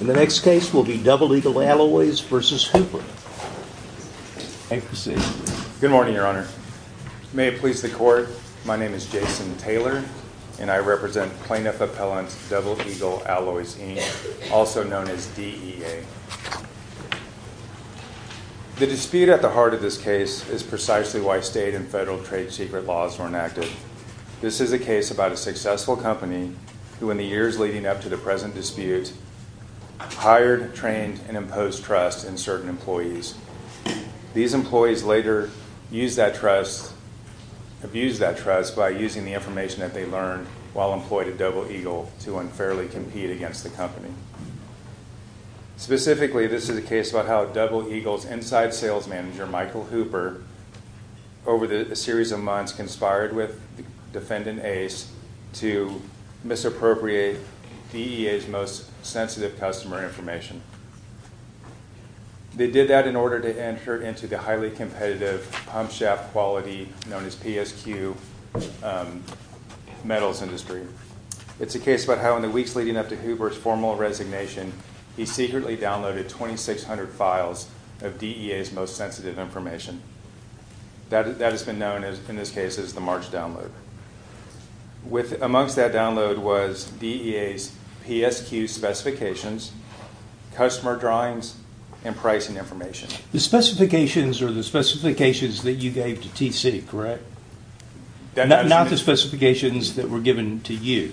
Good morning, Your Honor. May it please the Court, my name is Jason Taylor, and I represent Plaintiff Appellant Double Eagle Alloys, also known as DEA. The dispute at the heart of this case is precisely why state and federal trade secret laws were enacted. This is a hired, trained, and imposed trust in certain employees. These employees later abused that trust by using the information that they learned while employed at Double Eagle to unfairly compete against the company. Specifically, this is a case about how Double Eagle's inside sales manager, Michael Hooper, over a series of months conspired with defendant Ace to misappropriate DEA's most sensitive customer information. They did that in order to enter into the highly competitive pump shaft quality known as PSQ metals industry. It's a case about how in the weeks leading up to Hooper's formal resignation, he secretly downloaded 2,600 files of DEA's most sensitive information. That has been known, in this case, as the large download. Amongst that download was DEA's PSQ specifications, customer drawings, and pricing information. The specifications are the specifications that you gave to TC, correct? Not the specifications that were given to you.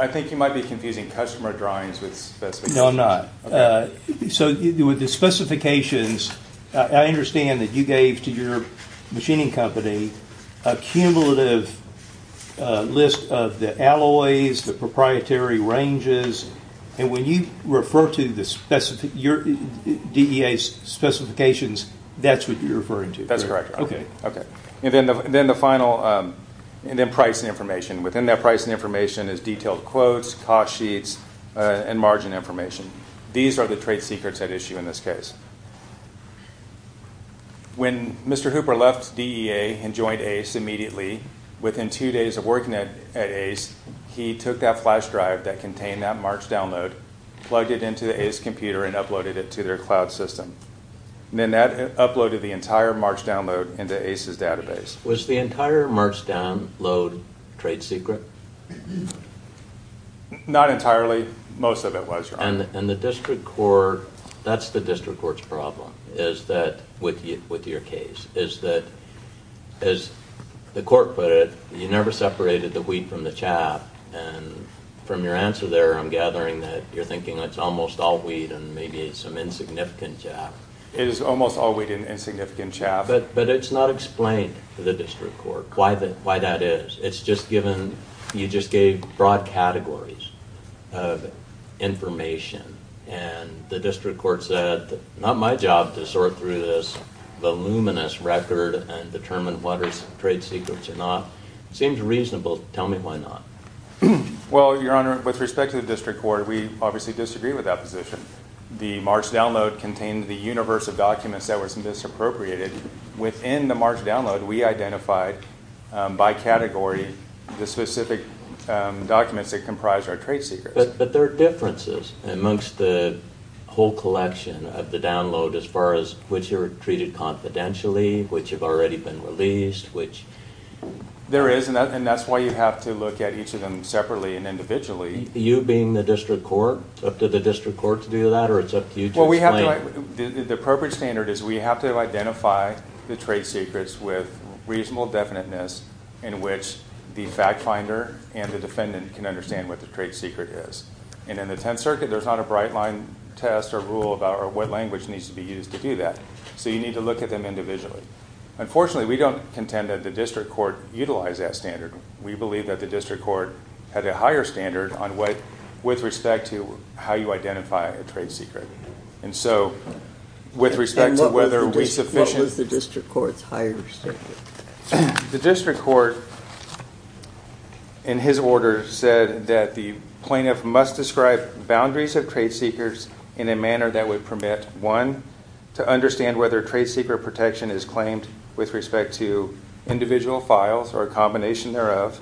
I think you might be confusing customer drawings with specifications. No, I'm not. So with the specifications, I understand that you gave to your machining company a cumulative list of the alloys, the proprietary ranges, and when you refer to your DEA's specifications, that's what you're referring to. That's correct. Then the final, and then pricing information. Within that pricing information is detailed quotes, cost sheets, and margin information. These are the trade secrets at issue in this case. When Mr. Hooper left DEA and joined ACE immediately, within two days of working at ACE, he took that flash drive that contained that March download, plugged it into the ACE computer, and uploaded it to their cloud system. Then that uploaded the entire March download into ACE's database. Was the entire March download trade secret? Not entirely. Most of it. That's the district court's problem with your case. As the court put it, you never separated the wheat from the chaff. From your answer there, I'm gathering that you're thinking it's almost all wheat and maybe some insignificant chaff. It is almost all wheat and insignificant chaff. But it's not explained to the district court why that is. It's just given, you just gave broad categories of information, and the district court said, not my job to sort through this voluminous record and determine what are trade secrets or not. It seems reasonable. Tell me why not. Well, Your Honor, with respect to the district court, we obviously disagree with that position. The March download contained the universe of documents that were misappropriated. Within the March download, we identified by category the specific documents that comprise our trade secrets. But there are differences amongst the whole collection of the download as far as which are treated confidentially, which have already been released, which... There is, and that's why you have to look at each of them separately and individually. You being the district court, up to the district court to do that, or it's up to you to explain? The appropriate standard is we have to identify the trade secrets with reasonable definiteness in which the fact finder and the defendant can understand what the trade secret is. And in the Tenth Circuit, there's not a bright line test or rule about what language needs to be used to do that. So you need to look at them individually. Unfortunately, we don't contend that the district court utilized that standard. We believe that the district court had a higher standard on what, with respect to how you identify a trade secret. And so, with respect to whether we sufficiently... And what was the district court's higher standard? The district court, in his order, said that the plaintiff must describe boundaries of trade secrets in a manner that would permit, one, to understand whether trade secret protection is claimed with respect to individual files or a combination thereof,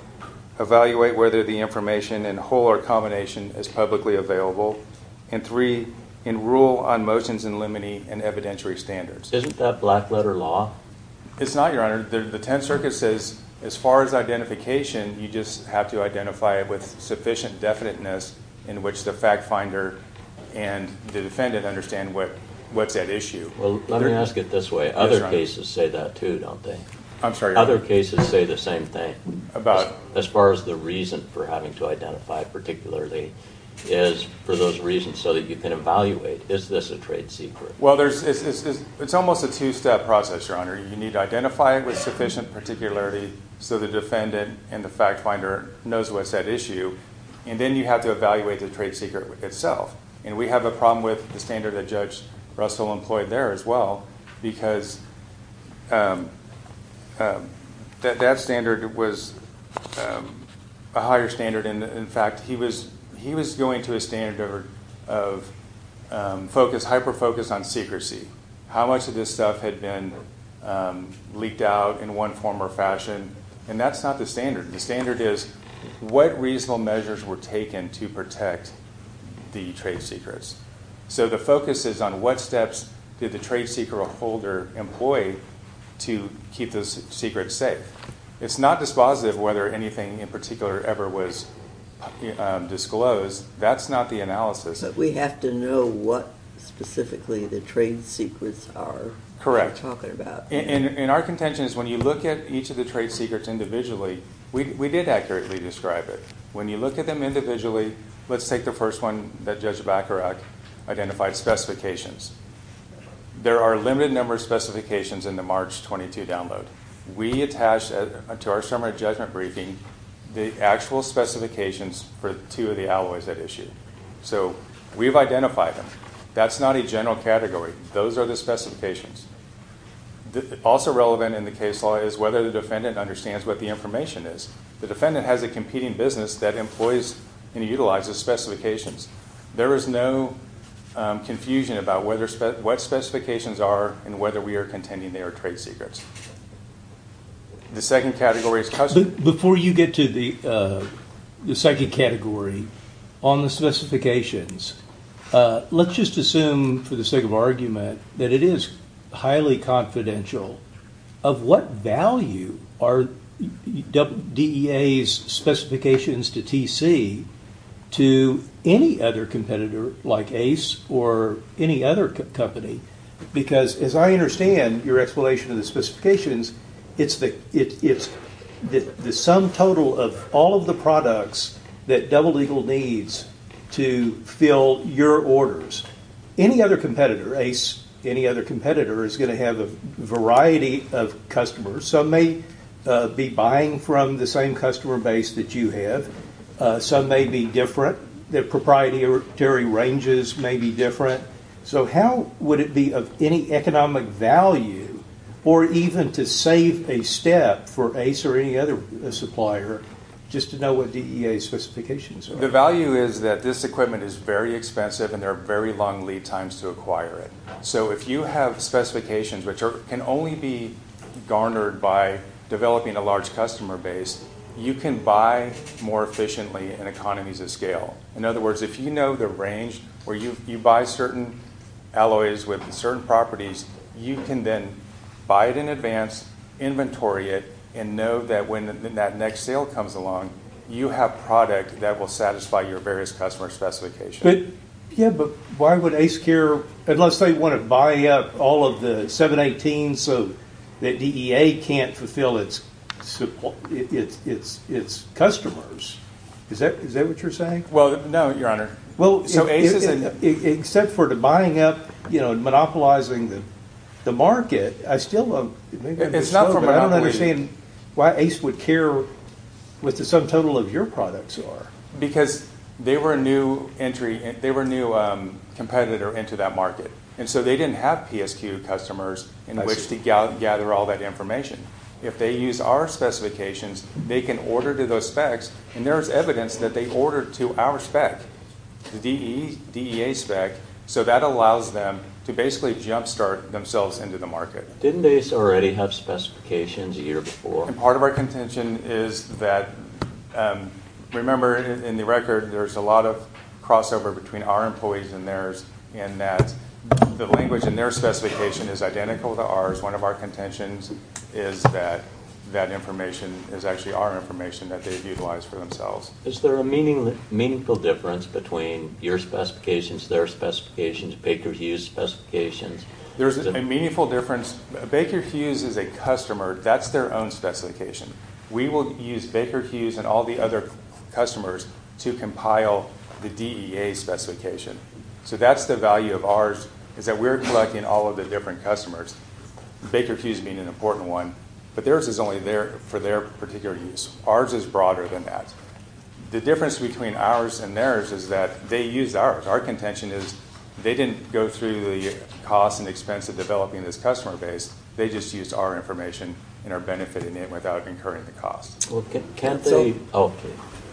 evaluate whether the information in whole or combination is publicly available, and three, enroll on motions in limine and evidentiary standards. Isn't that black letter law? It's not, Your Honor. The Tenth Circuit says, as far as identification, you just have to identify it with sufficient definiteness in which the fact finder and the defendant understand what's at issue. Well, let me ask it this way. Other cases say that too, don't they? I'm sorry, Your Honor. Other cases say the same thing. About? As far as the reason for having to identify particularly, is for those reasons so that you can evaluate, is this a trade secret? Well, it's almost a two-step process, Your Honor. You need to identify it with sufficient particularity so the defendant and the fact finder knows what's at issue, and then you have to evaluate the trade secret itself. And we have a problem with the standard that Judge Russell employed there as well, because that standard was a higher standard. In fact, he was going to a standard of hyper-focus on secrecy, how much of this stuff had been leaked out in one form or fashion, and that's not the standard. The standard is what reasonable measures were taken to protect the trade secrets. So the focus is on what steps did the trade secret holder employ to keep those secrets safe. It's not dispositive whether anything in particular ever was disclosed. That's not the analysis. But we have to know what specifically the trade secrets are talking about. Correct. In our contentions, when you look at each of the trade secrets individually, we did accurately describe it. When you look at them individually, let's take the first one that Judge Bacharach identified, specifications. There are a limited number of specifications in the March 22 download. We attached to our summary judgment briefing the actual specifications for two of the alloys at issue. So we've identified them. That's not a general category. Those are the specifications. Also relevant in the case law is whether the defendant understands what the information is. The defendant has a competing business that employs and utilizes those specifications. There is no confusion about what specifications are and whether we are containing their trade secrets. The second category is custom. Before you get to the second category on the specifications, let's just assume for the sake of argument that it is highly confidential of what value are DEA's specifications to TC to any other competitor like Ace or any other company. Because as I understand your explanation of the specifications, it's the sum total of all of the products that Double Eagle needs to fill your orders. Any other competitor, Ace, any other competitor is going to have a variety of customers. Some may be buying from the same customer base that you have. Some may be different. Their proprietary ranges may be different. So how would it be of any economic value or even to save a step for Ace or any other supplier just to know what DEA's specifications are? The value is that this equipment is very expensive and there are very long lead times to acquire it. So if you have specifications which can only be garnered by developing a large customer base, you can buy more efficiently in economies of scale. In other words, if you know the range where you buy certain alloys with certain properties, you can then buy it in advance, inventory it, and know that when that next sale comes along, you have product that will satisfy your various customer specifications. But why would Ace care, unless they want to buy up all of the 718s so that DEA can't fulfill its customers. Is that what you're saying? Well, no, your honor. Well, except for the buying up and monopolizing the market, I still don't understand why Ace would care what the sum total of your products are. Because they were a new competitor into that market, and so they didn't have PSQ customers in which to gather all that information. If they use our specifications, they can order to those specs, and there's evidence that they ordered to our spec, the DEA spec, so that allows them to basically jumpstart themselves into the market. Didn't Ace already have specifications a year before? Part of our contention is that, remember in the record, there's a lot of crossover between our employees and theirs, and that the language in their specification is identical to ours. One of our contentions is that that information is actually our information that they've utilized for themselves. Is there a meaningful difference between your specifications, their specifications, Baker Hughes' specifications? There's a meaningful difference. Baker Hughes is a customer. That's their own specification. We will use Baker Hughes and all the other customers to compile the DEA specification. So that's the value of ours, is that we're collecting all of the different customers, Baker Hughes being an important one, but theirs is only for their particular use. Ours is broader than that. The difference between ours and theirs is that they use ours. Our contention is they didn't go through the cost and expense of developing this customer base. They just used our information and are benefiting it without incurring the cost.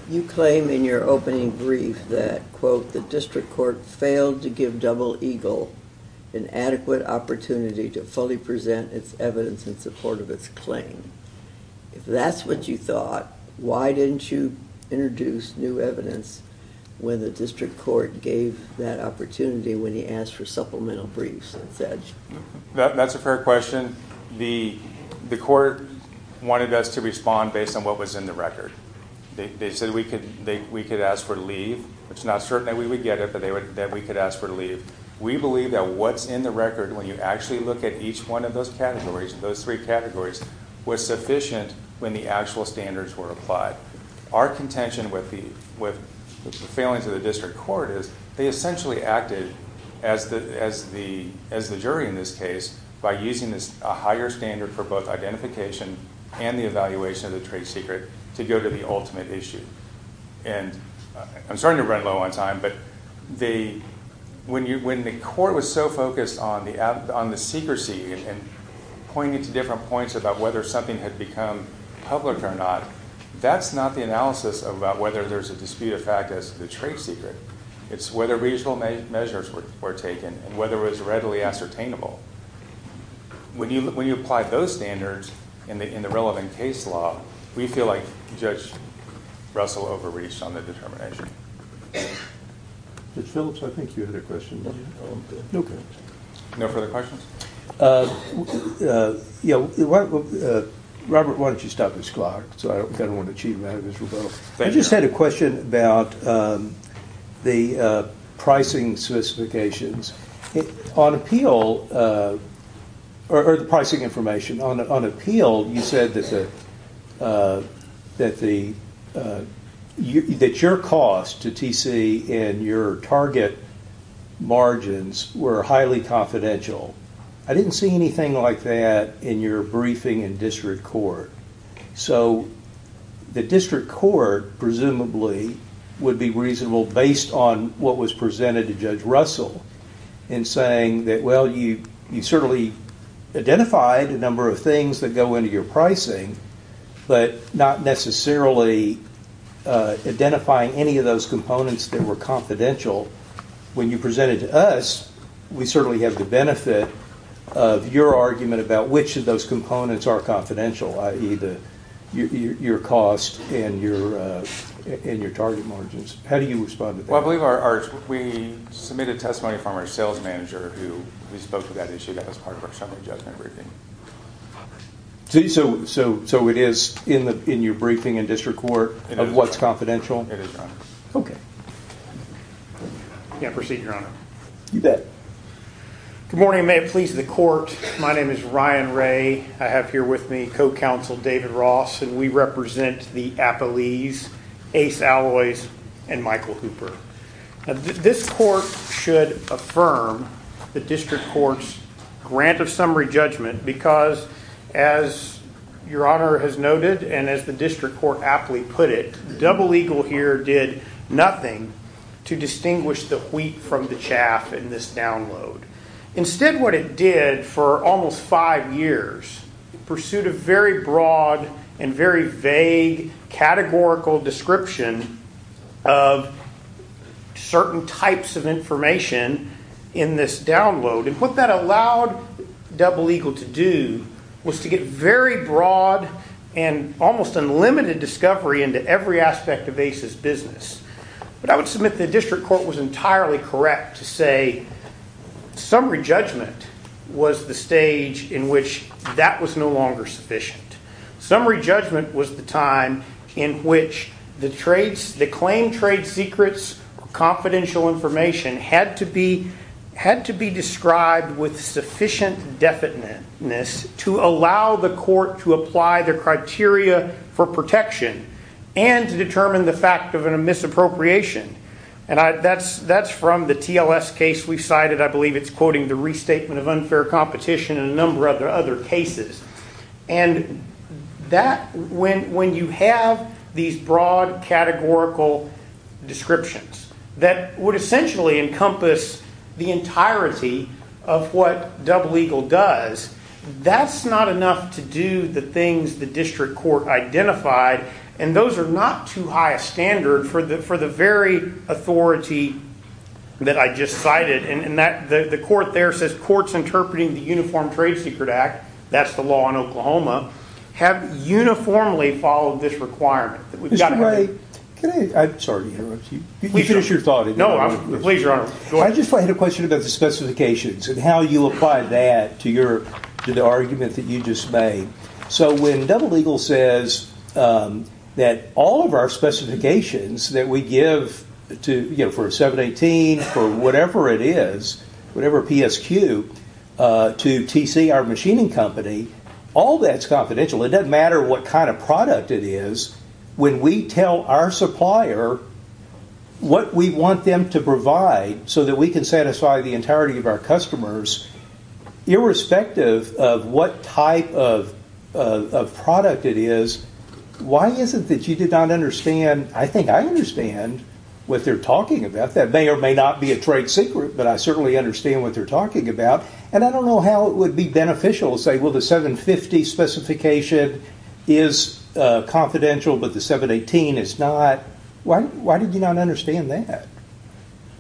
You claim in your opening brief that, quote, the district court failed to give Double Eagle an adequate opportunity to fully present its evidence in support of its claim. If that's what you thought, why didn't you introduce new evidence when the district court gave that opportunity when you asked for supplemental briefs instead? That's a fair question. The court wanted us to respond based on what was in the record. They said we could ask for leave. It's not certain that we would get it, but that we could ask for leave. We believe that what's in the record, when you actually look at each one of those categories, those three categories, was sufficient when the actual standards were identified. Our contention with the failing to the district court is they essentially acted as the jury in this case by using a higher standard for both identification and the evaluation of the trade secret to go to the ultimate issue. I'm starting to run low on time, but when the court was so focused on the secrecy and pointing to different points about whether something had become public or not, that's not the analysis about whether there's a dispute of fact as to the trade secret. It's whether reasonable measures were taken and whether it was readily ascertainable. When you apply those standards in the relevant case law, we feel like Judge Russell overreached on the determination. Judge Phillips, I think you had a question. No further questions? Robert, why don't you stop this clock? I just had a question about the pricing specifications. On appeal, or the pricing information, on appeal you said that your cost to TC and your target margins were highly confidential. I didn't see anything like that in your briefing in district court. The district court, presumably, would be reasonable based on what was presented to Judge Russell in saying that you certainly identified a number of things that go into your pricing, but not necessarily identifying any of those components that were confidential when you presented to us. We certainly have the benefit of your argument about which of those components are confidential, i.e. your cost and your target margins. How do you respond to that? I believe we submitted testimony from our sales manager who spoke to that issue that was part of our summary judgment briefing. So it is in your briefing in district court of what's confidential? It is, Your Honor. Can I proceed, Your Honor? You bet. Good morning, and may it please the court. My name is Ryan Ray. I have here with me co-counsel David Ross, and we represent the Appalese, Ace Alloys, and Michael Hooper. This court should affirm the district court's grant of summary judgment because, as Your Honor, the appeal here did nothing to distinguish the wheat from the chaff in this download. Instead, what it did for almost five years, in pursuit of very broad and very vague categorical description of certain types of information in this download, and what that allowed Double Eagle to do was to get very broad and almost unlimited discovery into every aspect of Ace Alloys' business. But I would submit the district court was entirely correct to say summary judgment was the stage in which that was no longer sufficient. Summary judgment was the time in which the claim trade secrets or confidential information had to be described with sufficient definiteness to allow the court to apply the criteria for protection and to determine the fact of a misappropriation. That's from the TLS case we cited. I believe it's quoting the restatement of unfair competition and a number of other cases. When you have these broad categorical descriptions that would essentially encompass the entirety of what Double Eagle does, that's not enough to do the things the district court identified, and those are not too high a standard for the very authority that I just cited. The court there says courts interpreting the Uniform Trade Secret Act, that's the law in Oklahoma, have uniformly followed this requirement. I just had a question about the specifications and how you apply that to the argument that you just made. So when Double Eagle says that all of our specifications that we give for a 718, for whatever it is, whatever PSQ, to TC, our machining company, all that's confidential. It doesn't matter what kind of product it is, when we tell our supplier what we want them to provide so that we can satisfy the entirety of our customers, irrespective of what type of product it is, why is it that you did not understand, I think I understand what they're talking about. That may or may not be a trade secret, but I certainly understand what they're talking about, and I don't know how it would be beneficial to say, well the 750 specification is confidential but the 718 is not. Why did you not understand that?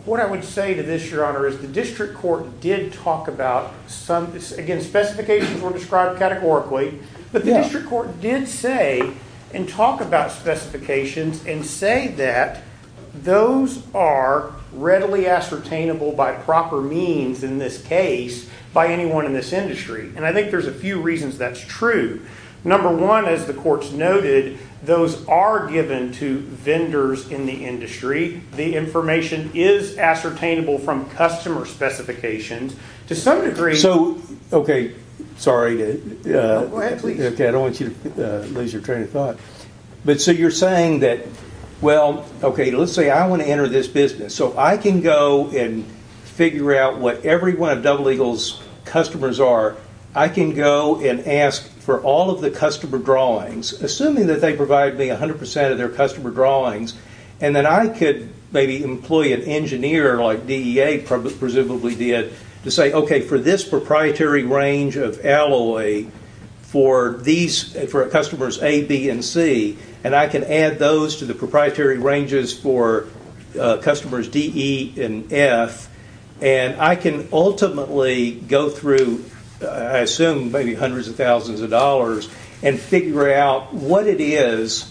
What I would say to this, your honor, is the district court did talk about some, again specifications were described categorically, but the district court did say and talk about specifications and say that those are readily ascertainable by proper means in this case by anyone in this industry. And I think there's a few reasons that's true. Number one, as the courts noted, those are given to vendors in the industry. The information is ascertainable from customer specifications to some degree. Sorry, I don't want you to lose your train of thought. So you're saying that, well, let's say I want to enter this business, so I can go and figure out what every one of Double Eagle's customers are, I can go and ask for all of the customer drawings, assuming that they provide me 100% of their customer drawings, and then I could maybe employ an engineer like DEA presumably did to say, okay, for this proprietary range of alloy, for customers A, B, and C, and I can add those to the proprietary ranges for customers D, E, and F, and I can ultimately go through, I assume, maybe hundreds of thousands of dollars and figure out what it is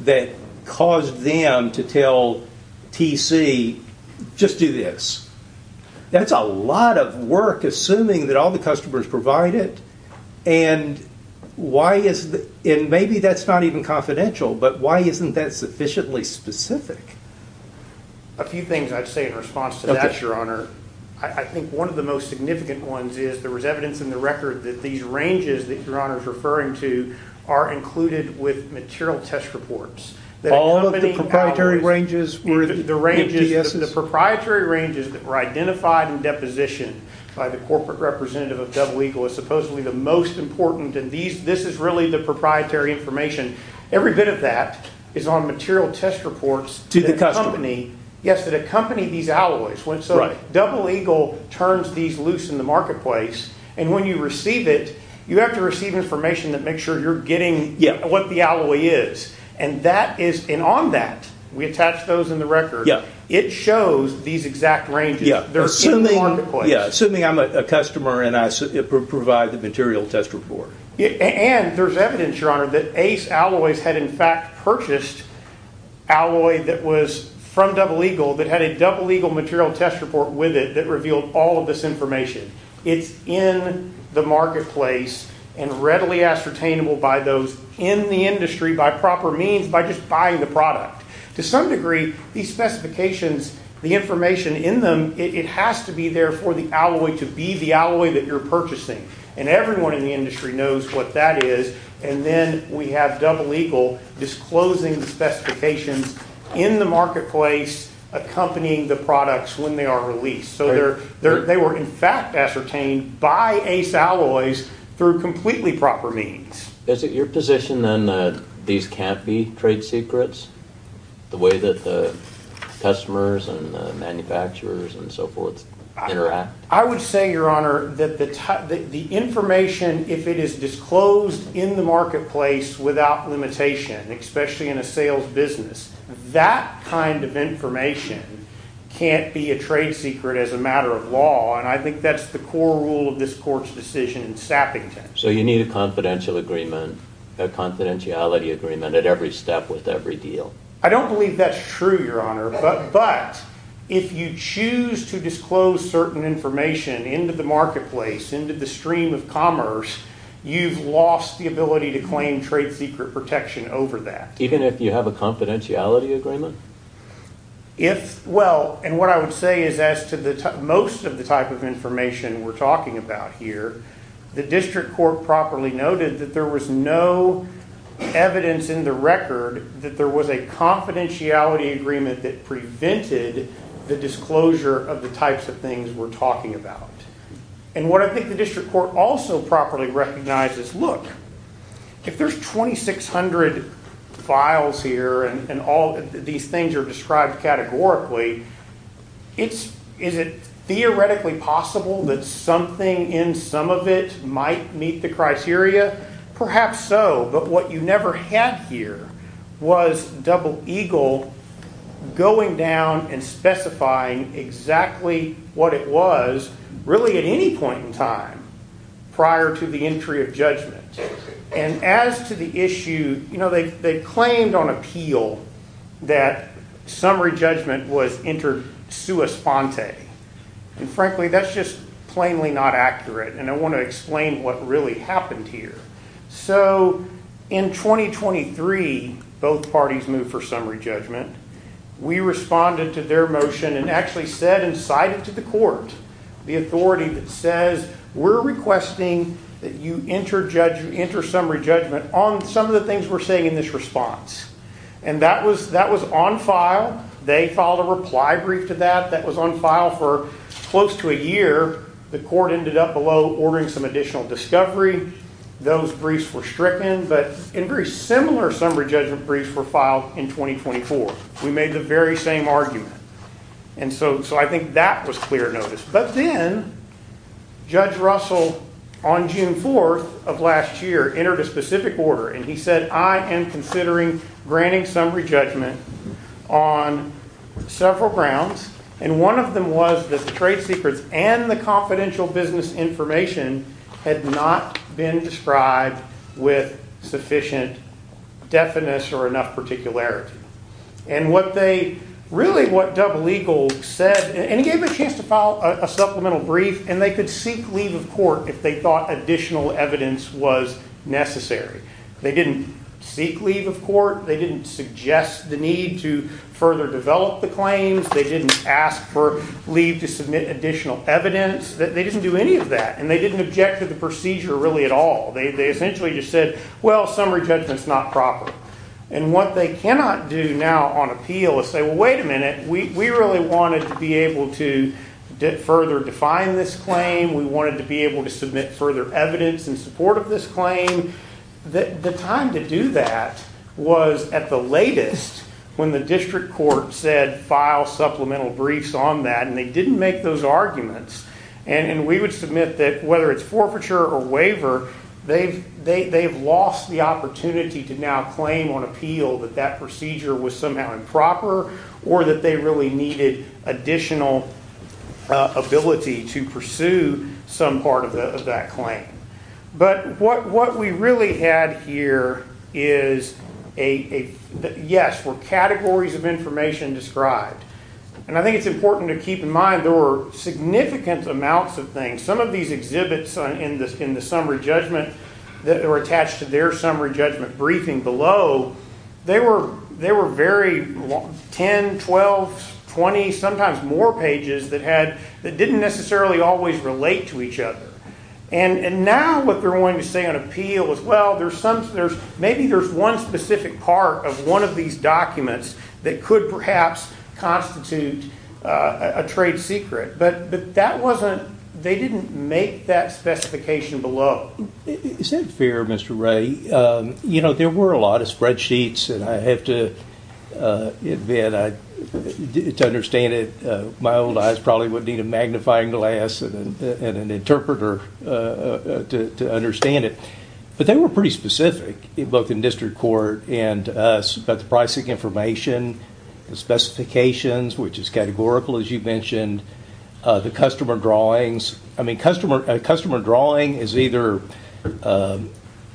that caused them to tell TC, just do this. That's a lot of work, assuming that all the customers provide it, and maybe that's not even confidential, but why isn't that sufficiently specific? A few things I'd say in response to that, Your Honor. I think one of the most significant ones is there was evidence in the record that these ranges that Your Honor is referring to are included with material test reports. All of the proprietary ranges were the MTSs? The ranges, the proprietary ranges that were identified in deposition by the corporate representative of Double Eagle is supposedly the most important, and this is really the proprietary information. Every bit of that is on material test reports. To the customer. Yes, that accompany these alloys. Double Eagle turns these loose in the marketplace, and when you receive it, you have to receive information that makes sure you're getting what the alloy is, and on that, we attach those in the record, it shows these exact ranges. Assuming I'm a customer and I provide the material test report. And there's evidence, Your Honor, that Ace Alloys had in fact purchased alloy that was from Double Eagle that had a Double Eagle material test report with it that revealed all of this information. It's in the marketplace and readily ascertainable by those in the industry by proper means by just buying the product. To some degree, these specifications, the information in them, it has to be there for the alloy to be the alloy that you're purchasing, and everyone in the industry knows what that alloy is, and then we have Double Eagle disclosing the specifications in the marketplace accompanying the products when they are released. So they were in fact ascertained by Ace Alloys through completely proper means. Is it your position then that these can't be trade secrets? The way that the customers and the manufacturers and so forth interact? I would say, Your Honor, that the information, if it is disclosed in the marketplace without limitation, especially in a sales business, that kind of information can't be a trade secret as a matter of law, and I think that's the core rule of this Court's decision in Sappington. So you need a confidentiality agreement at every step with every deal? I don't believe that's true, Your Honor, but if you choose to disclose certain information into the marketplace, into the stream of commerce, you've lost the ability to claim trade secret protection over that. Even if you have a confidentiality agreement? Well, and what I would say is as to most of the type of information we're talking about here, the District Court properly noted that there was no evidence in the record that there was a confidentiality agreement that prevented the disclosure of the types of things we're talking about. And what I think the District Court also properly recognizes, look, if there's 2,600 files here and all these things are described categorically, is it theoretically possible that something in some of it might meet the criteria? Perhaps so, but what you never had here was Double Eagle going down and specifying exactly what it was really at any point in time prior to the entry of judgment. And as to the issue, you know, they claimed on appeal that summary judgment was inter sua sponte, and frankly, that's just plainly not accurate, and I want to explain what really happened here. So in 2023, both parties moved for summary judgment. We responded to their motion and actually said and cited to the court the authority that says we're requesting that you enter summary judgment on some of the things we're saying in this response. And that was on file. They filed a reply brief to that. That was on file for close to a year. The court ended up below ordering some additional discovery. Those briefs were stricken, but very similar summary judgment briefs were filed in 2024. We made the very same argument. And so I think that was clear notice. But then Judge Russell on June 4th of last year entered a specific order, and he said I am considering granting summary judgment on several grounds, and one of them was that the confidential business information had not been described with sufficient deafness or enough particularity. And what they, really what Double Eagle said, and he gave them a chance to file a supplemental brief, and they could seek leave of court if they thought additional evidence was necessary. They didn't seek leave of court. They didn't suggest the need to further develop the claims. They didn't ask for leave to submit additional evidence. They didn't do any of that, and they didn't object to the procedure really at all. They essentially just said, well, summary judgment's not proper. And what they cannot do now on appeal is say, well, wait a minute. We really wanted to be able to further define this claim. We wanted to be able to submit further evidence in support of this claim. The time to do that was at the latest when the district court said, file supplemental briefs on that, and they didn't make those arguments. And we would submit that whether it's forfeiture or waiver, they've lost the opportunity to now claim on appeal that that procedure was somehow improper or that they really needed additional ability to pursue some part of that claim. But what we really had here is, yes, were categories of information described. And I think it's important to keep in mind there were significant amounts of things. Some of these exhibits in the summary judgment that were attached to their summary judgment briefing below, they were very 10, 12, 20, sometimes more pages that didn't necessarily always relate to each other. And now what they're wanting to say on appeal is, well, maybe there's one specific part of one of these documents that could perhaps constitute a trade secret. But they didn't make that specification below. Is that fair, Mr. Ray? You know, there were a lot of spreadsheets, and I have to admit, to understand it, my interpreter to understand it. But they were pretty specific, both in district court and us, about the pricing information, the specifications, which is categorical, as you mentioned, the customer drawings. I mean, a customer drawing is either a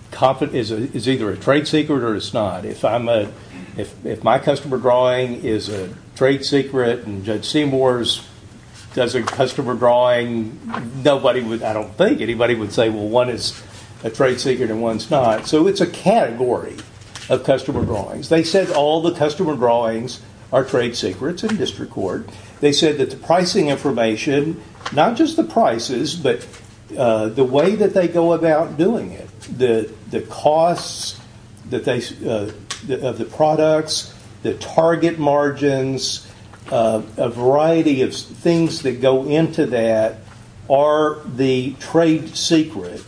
trade secret or it's not. If my customer drawing is a trade secret and Judge Seymour's does a customer drawing, I don't think anybody would say, well, one is a trade secret and one's not. So it's a category of customer drawings. They said all the customer drawings are trade secrets in district court. They said that the pricing information, not just the prices, but the way that they go about doing it, the costs of the products, the target margins, a variety of things that go into that, are the trade secret.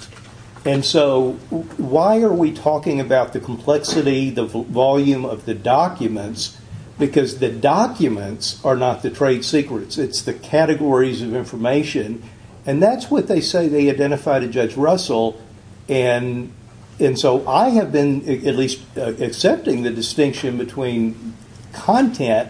And so why are we talking about the complexity, the volume of the documents? Because the documents are not the trade secrets. It's the categories of information. And that's what they say they identify to Judge Russell. And so I have been at least accepting the distinction between content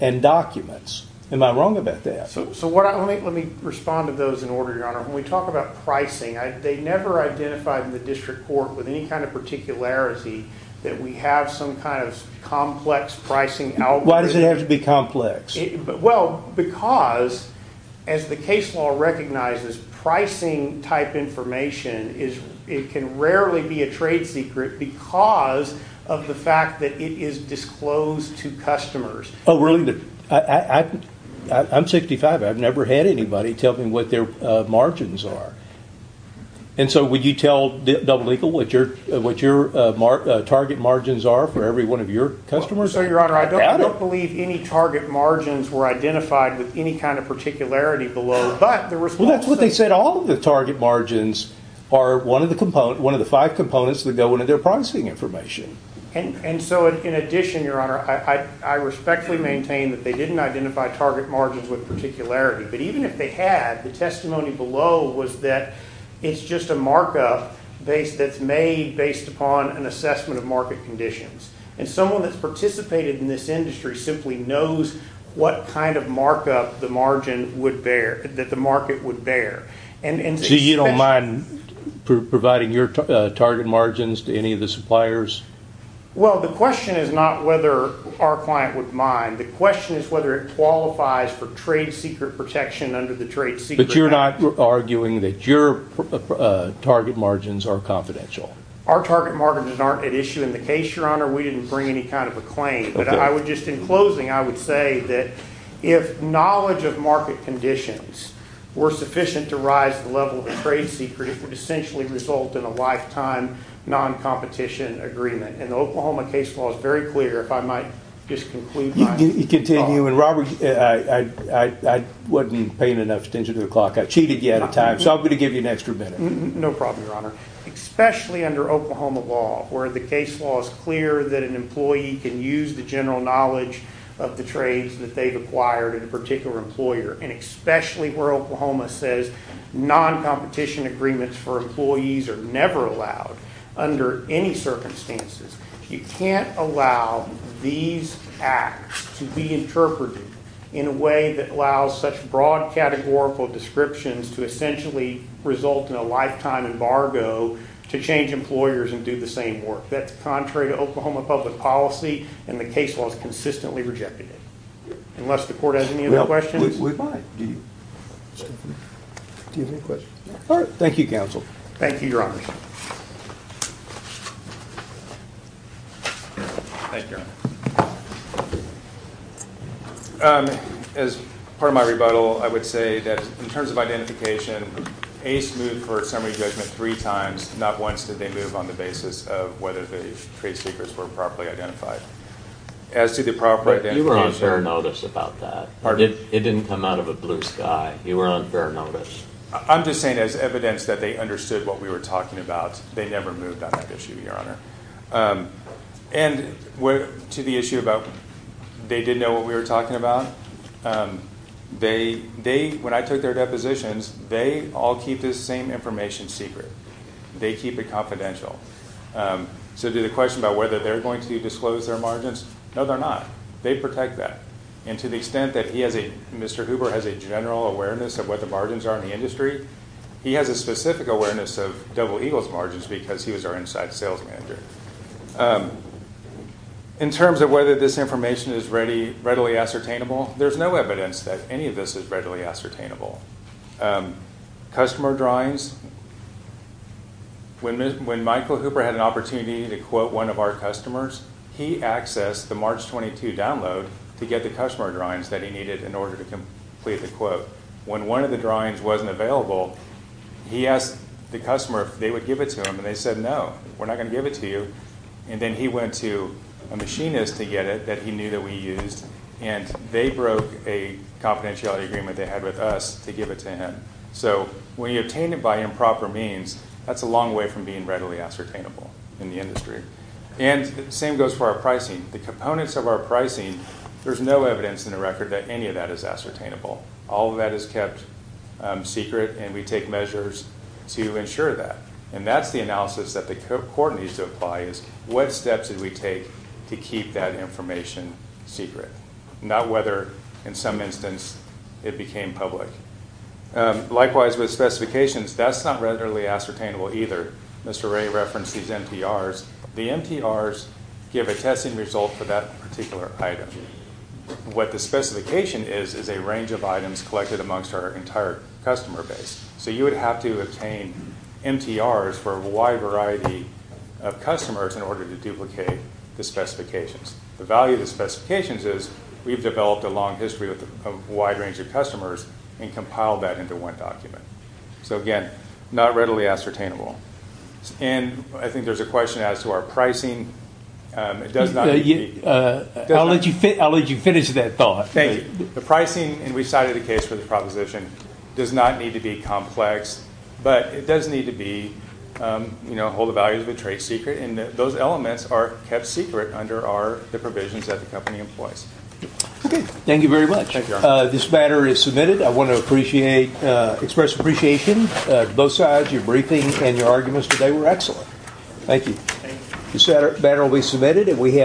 and documents. Am I wrong about that? So let me respond to those in order, Your Honor. When we talk about pricing, they never identified in the district court with any kind of particularity that we have some kind of complex pricing algorithm. Why does it have to be complex? Well, because, as the case law recognizes, pricing-type information can rarely be a trade secret because of the fact that it is disclosed to customers. Oh, really? I'm 65. I've never had anybody tell me what their margins are. And so would you tell Double Eagle what your target margins are for every one of your customers? I don't believe any target margins were identified with any kind of particularity below. Well, that's what they said. All of the target margins are one of the five components that go into their pricing information. And so in addition, Your Honor, I respectfully maintain that they didn't identify target margins with particularity. But even if they had, the testimony below was that it's just a markup that's made based upon an assessment of market conditions. And someone that's participated in this industry simply knows what kind of markup the margin would bear, that the market would bear. So you don't mind providing your target margins to any of the suppliers? Well, the question is not whether our client would mind. The question is whether it qualifies for trade secret protection under the Trade Secret Act. But you're not arguing that your target margins are confidential? Our target margins aren't at issue in the case, Your Honor. We didn't bring any kind of a claim. But I would just, in closing, I would say that if knowledge of market conditions were sufficient to rise the level of a trade secret, it would essentially result in a lifetime non-competition agreement. And the Oklahoma case law is very clear, if I might just conclude my comment. You continue. And Robert, I wasn't paying enough attention to the clock. I cheated you out of time. So I'm going to give you an extra minute. No problem, Your Honor. Especially under Oklahoma law, where the case law is clear that an employee can use the general knowledge of the trades that they've acquired in a particular employer, and especially where Oklahoma says non-competition agreements for employees are never allowed under any circumstances. You can't allow these acts to be interpreted in a way that allows such broad categorical descriptions to essentially result in a lifetime embargo to change employers and do the same work. That's contrary to Oklahoma public policy, and the case law has consistently rejected it. Unless the court has any other questions? We might. Do you have any questions? Thank you, counsel. Thank you, Your Honor. Thank you, Your Honor. As part of my rebuttal, I would say that in terms of identification, ACE moved for summary judgment three times. Not once did they move on the basis of whether the trade secrets were properly identified. As to the proper identification. You were on fair notice about that. Pardon? It didn't come out of a blue sky. You were on fair notice. I'm just saying as evidence that they understood what we were talking about. They never moved on that issue, Your Honor. And to the issue about they didn't know what we were talking about, when I took their depositions, they all keep this same information secret. They keep it confidential. So to the question about whether they're going to disclose their margins, no, they're not. They protect that. And to the extent that Mr. Hooper has a general awareness of what the margins are in the industry, he has a specific awareness of Double Eagle's margins because he was our inside sales manager. In terms of whether this information is readily ascertainable, there's no evidence that any of this is readily ascertainable. Customer drawings. When Michael Hooper had an opportunity to quote one of our customers, he accessed the March 22 download to get the customer drawings that he needed in order to complete the quote. When one of the drawings wasn't available, he asked the customer if they would give it to him. And they said, no, we're not going to give it to you. And then he went to a machinist to get it that he knew that we used. And they broke a confidentiality agreement they had with us to give it to him. So when you obtain it by improper means, that's a long way from being readily ascertainable in the industry. And the same goes for our pricing. The components of our pricing, there's no evidence in the record that any of that is ascertainable. All of that is kept secret, and we take measures to ensure that. And that's the analysis that the court needs to apply is, what steps did we take to keep that information secret? Not whether, in some instance, it became public. Likewise with specifications, that's not readily ascertainable either. Mr. Ray referenced these MTRs. The MTRs give a testing result for that particular item. What the specification is is a range of items collected amongst our entire customer base. So you would have to obtain MTRs for a wide variety of customers in order to duplicate the specifications. The value of the specifications is we've developed a long history of a wide range of customers and compiled that into one document. So, again, not readily ascertainable. And I think there's a question as to our pricing. It does not need to be. I'll let you finish that thought. Thank you. The pricing, and we cited a case for the proposition, does not need to be complex. But it does need to hold the values of the trade secret. And those elements are kept secret under the provisions that the company employs. Okay. Thank you very much. This matter is submitted. I want to express appreciation. Both sides, your briefing and your arguments today were excellent. Thank you. This matter will be submitted.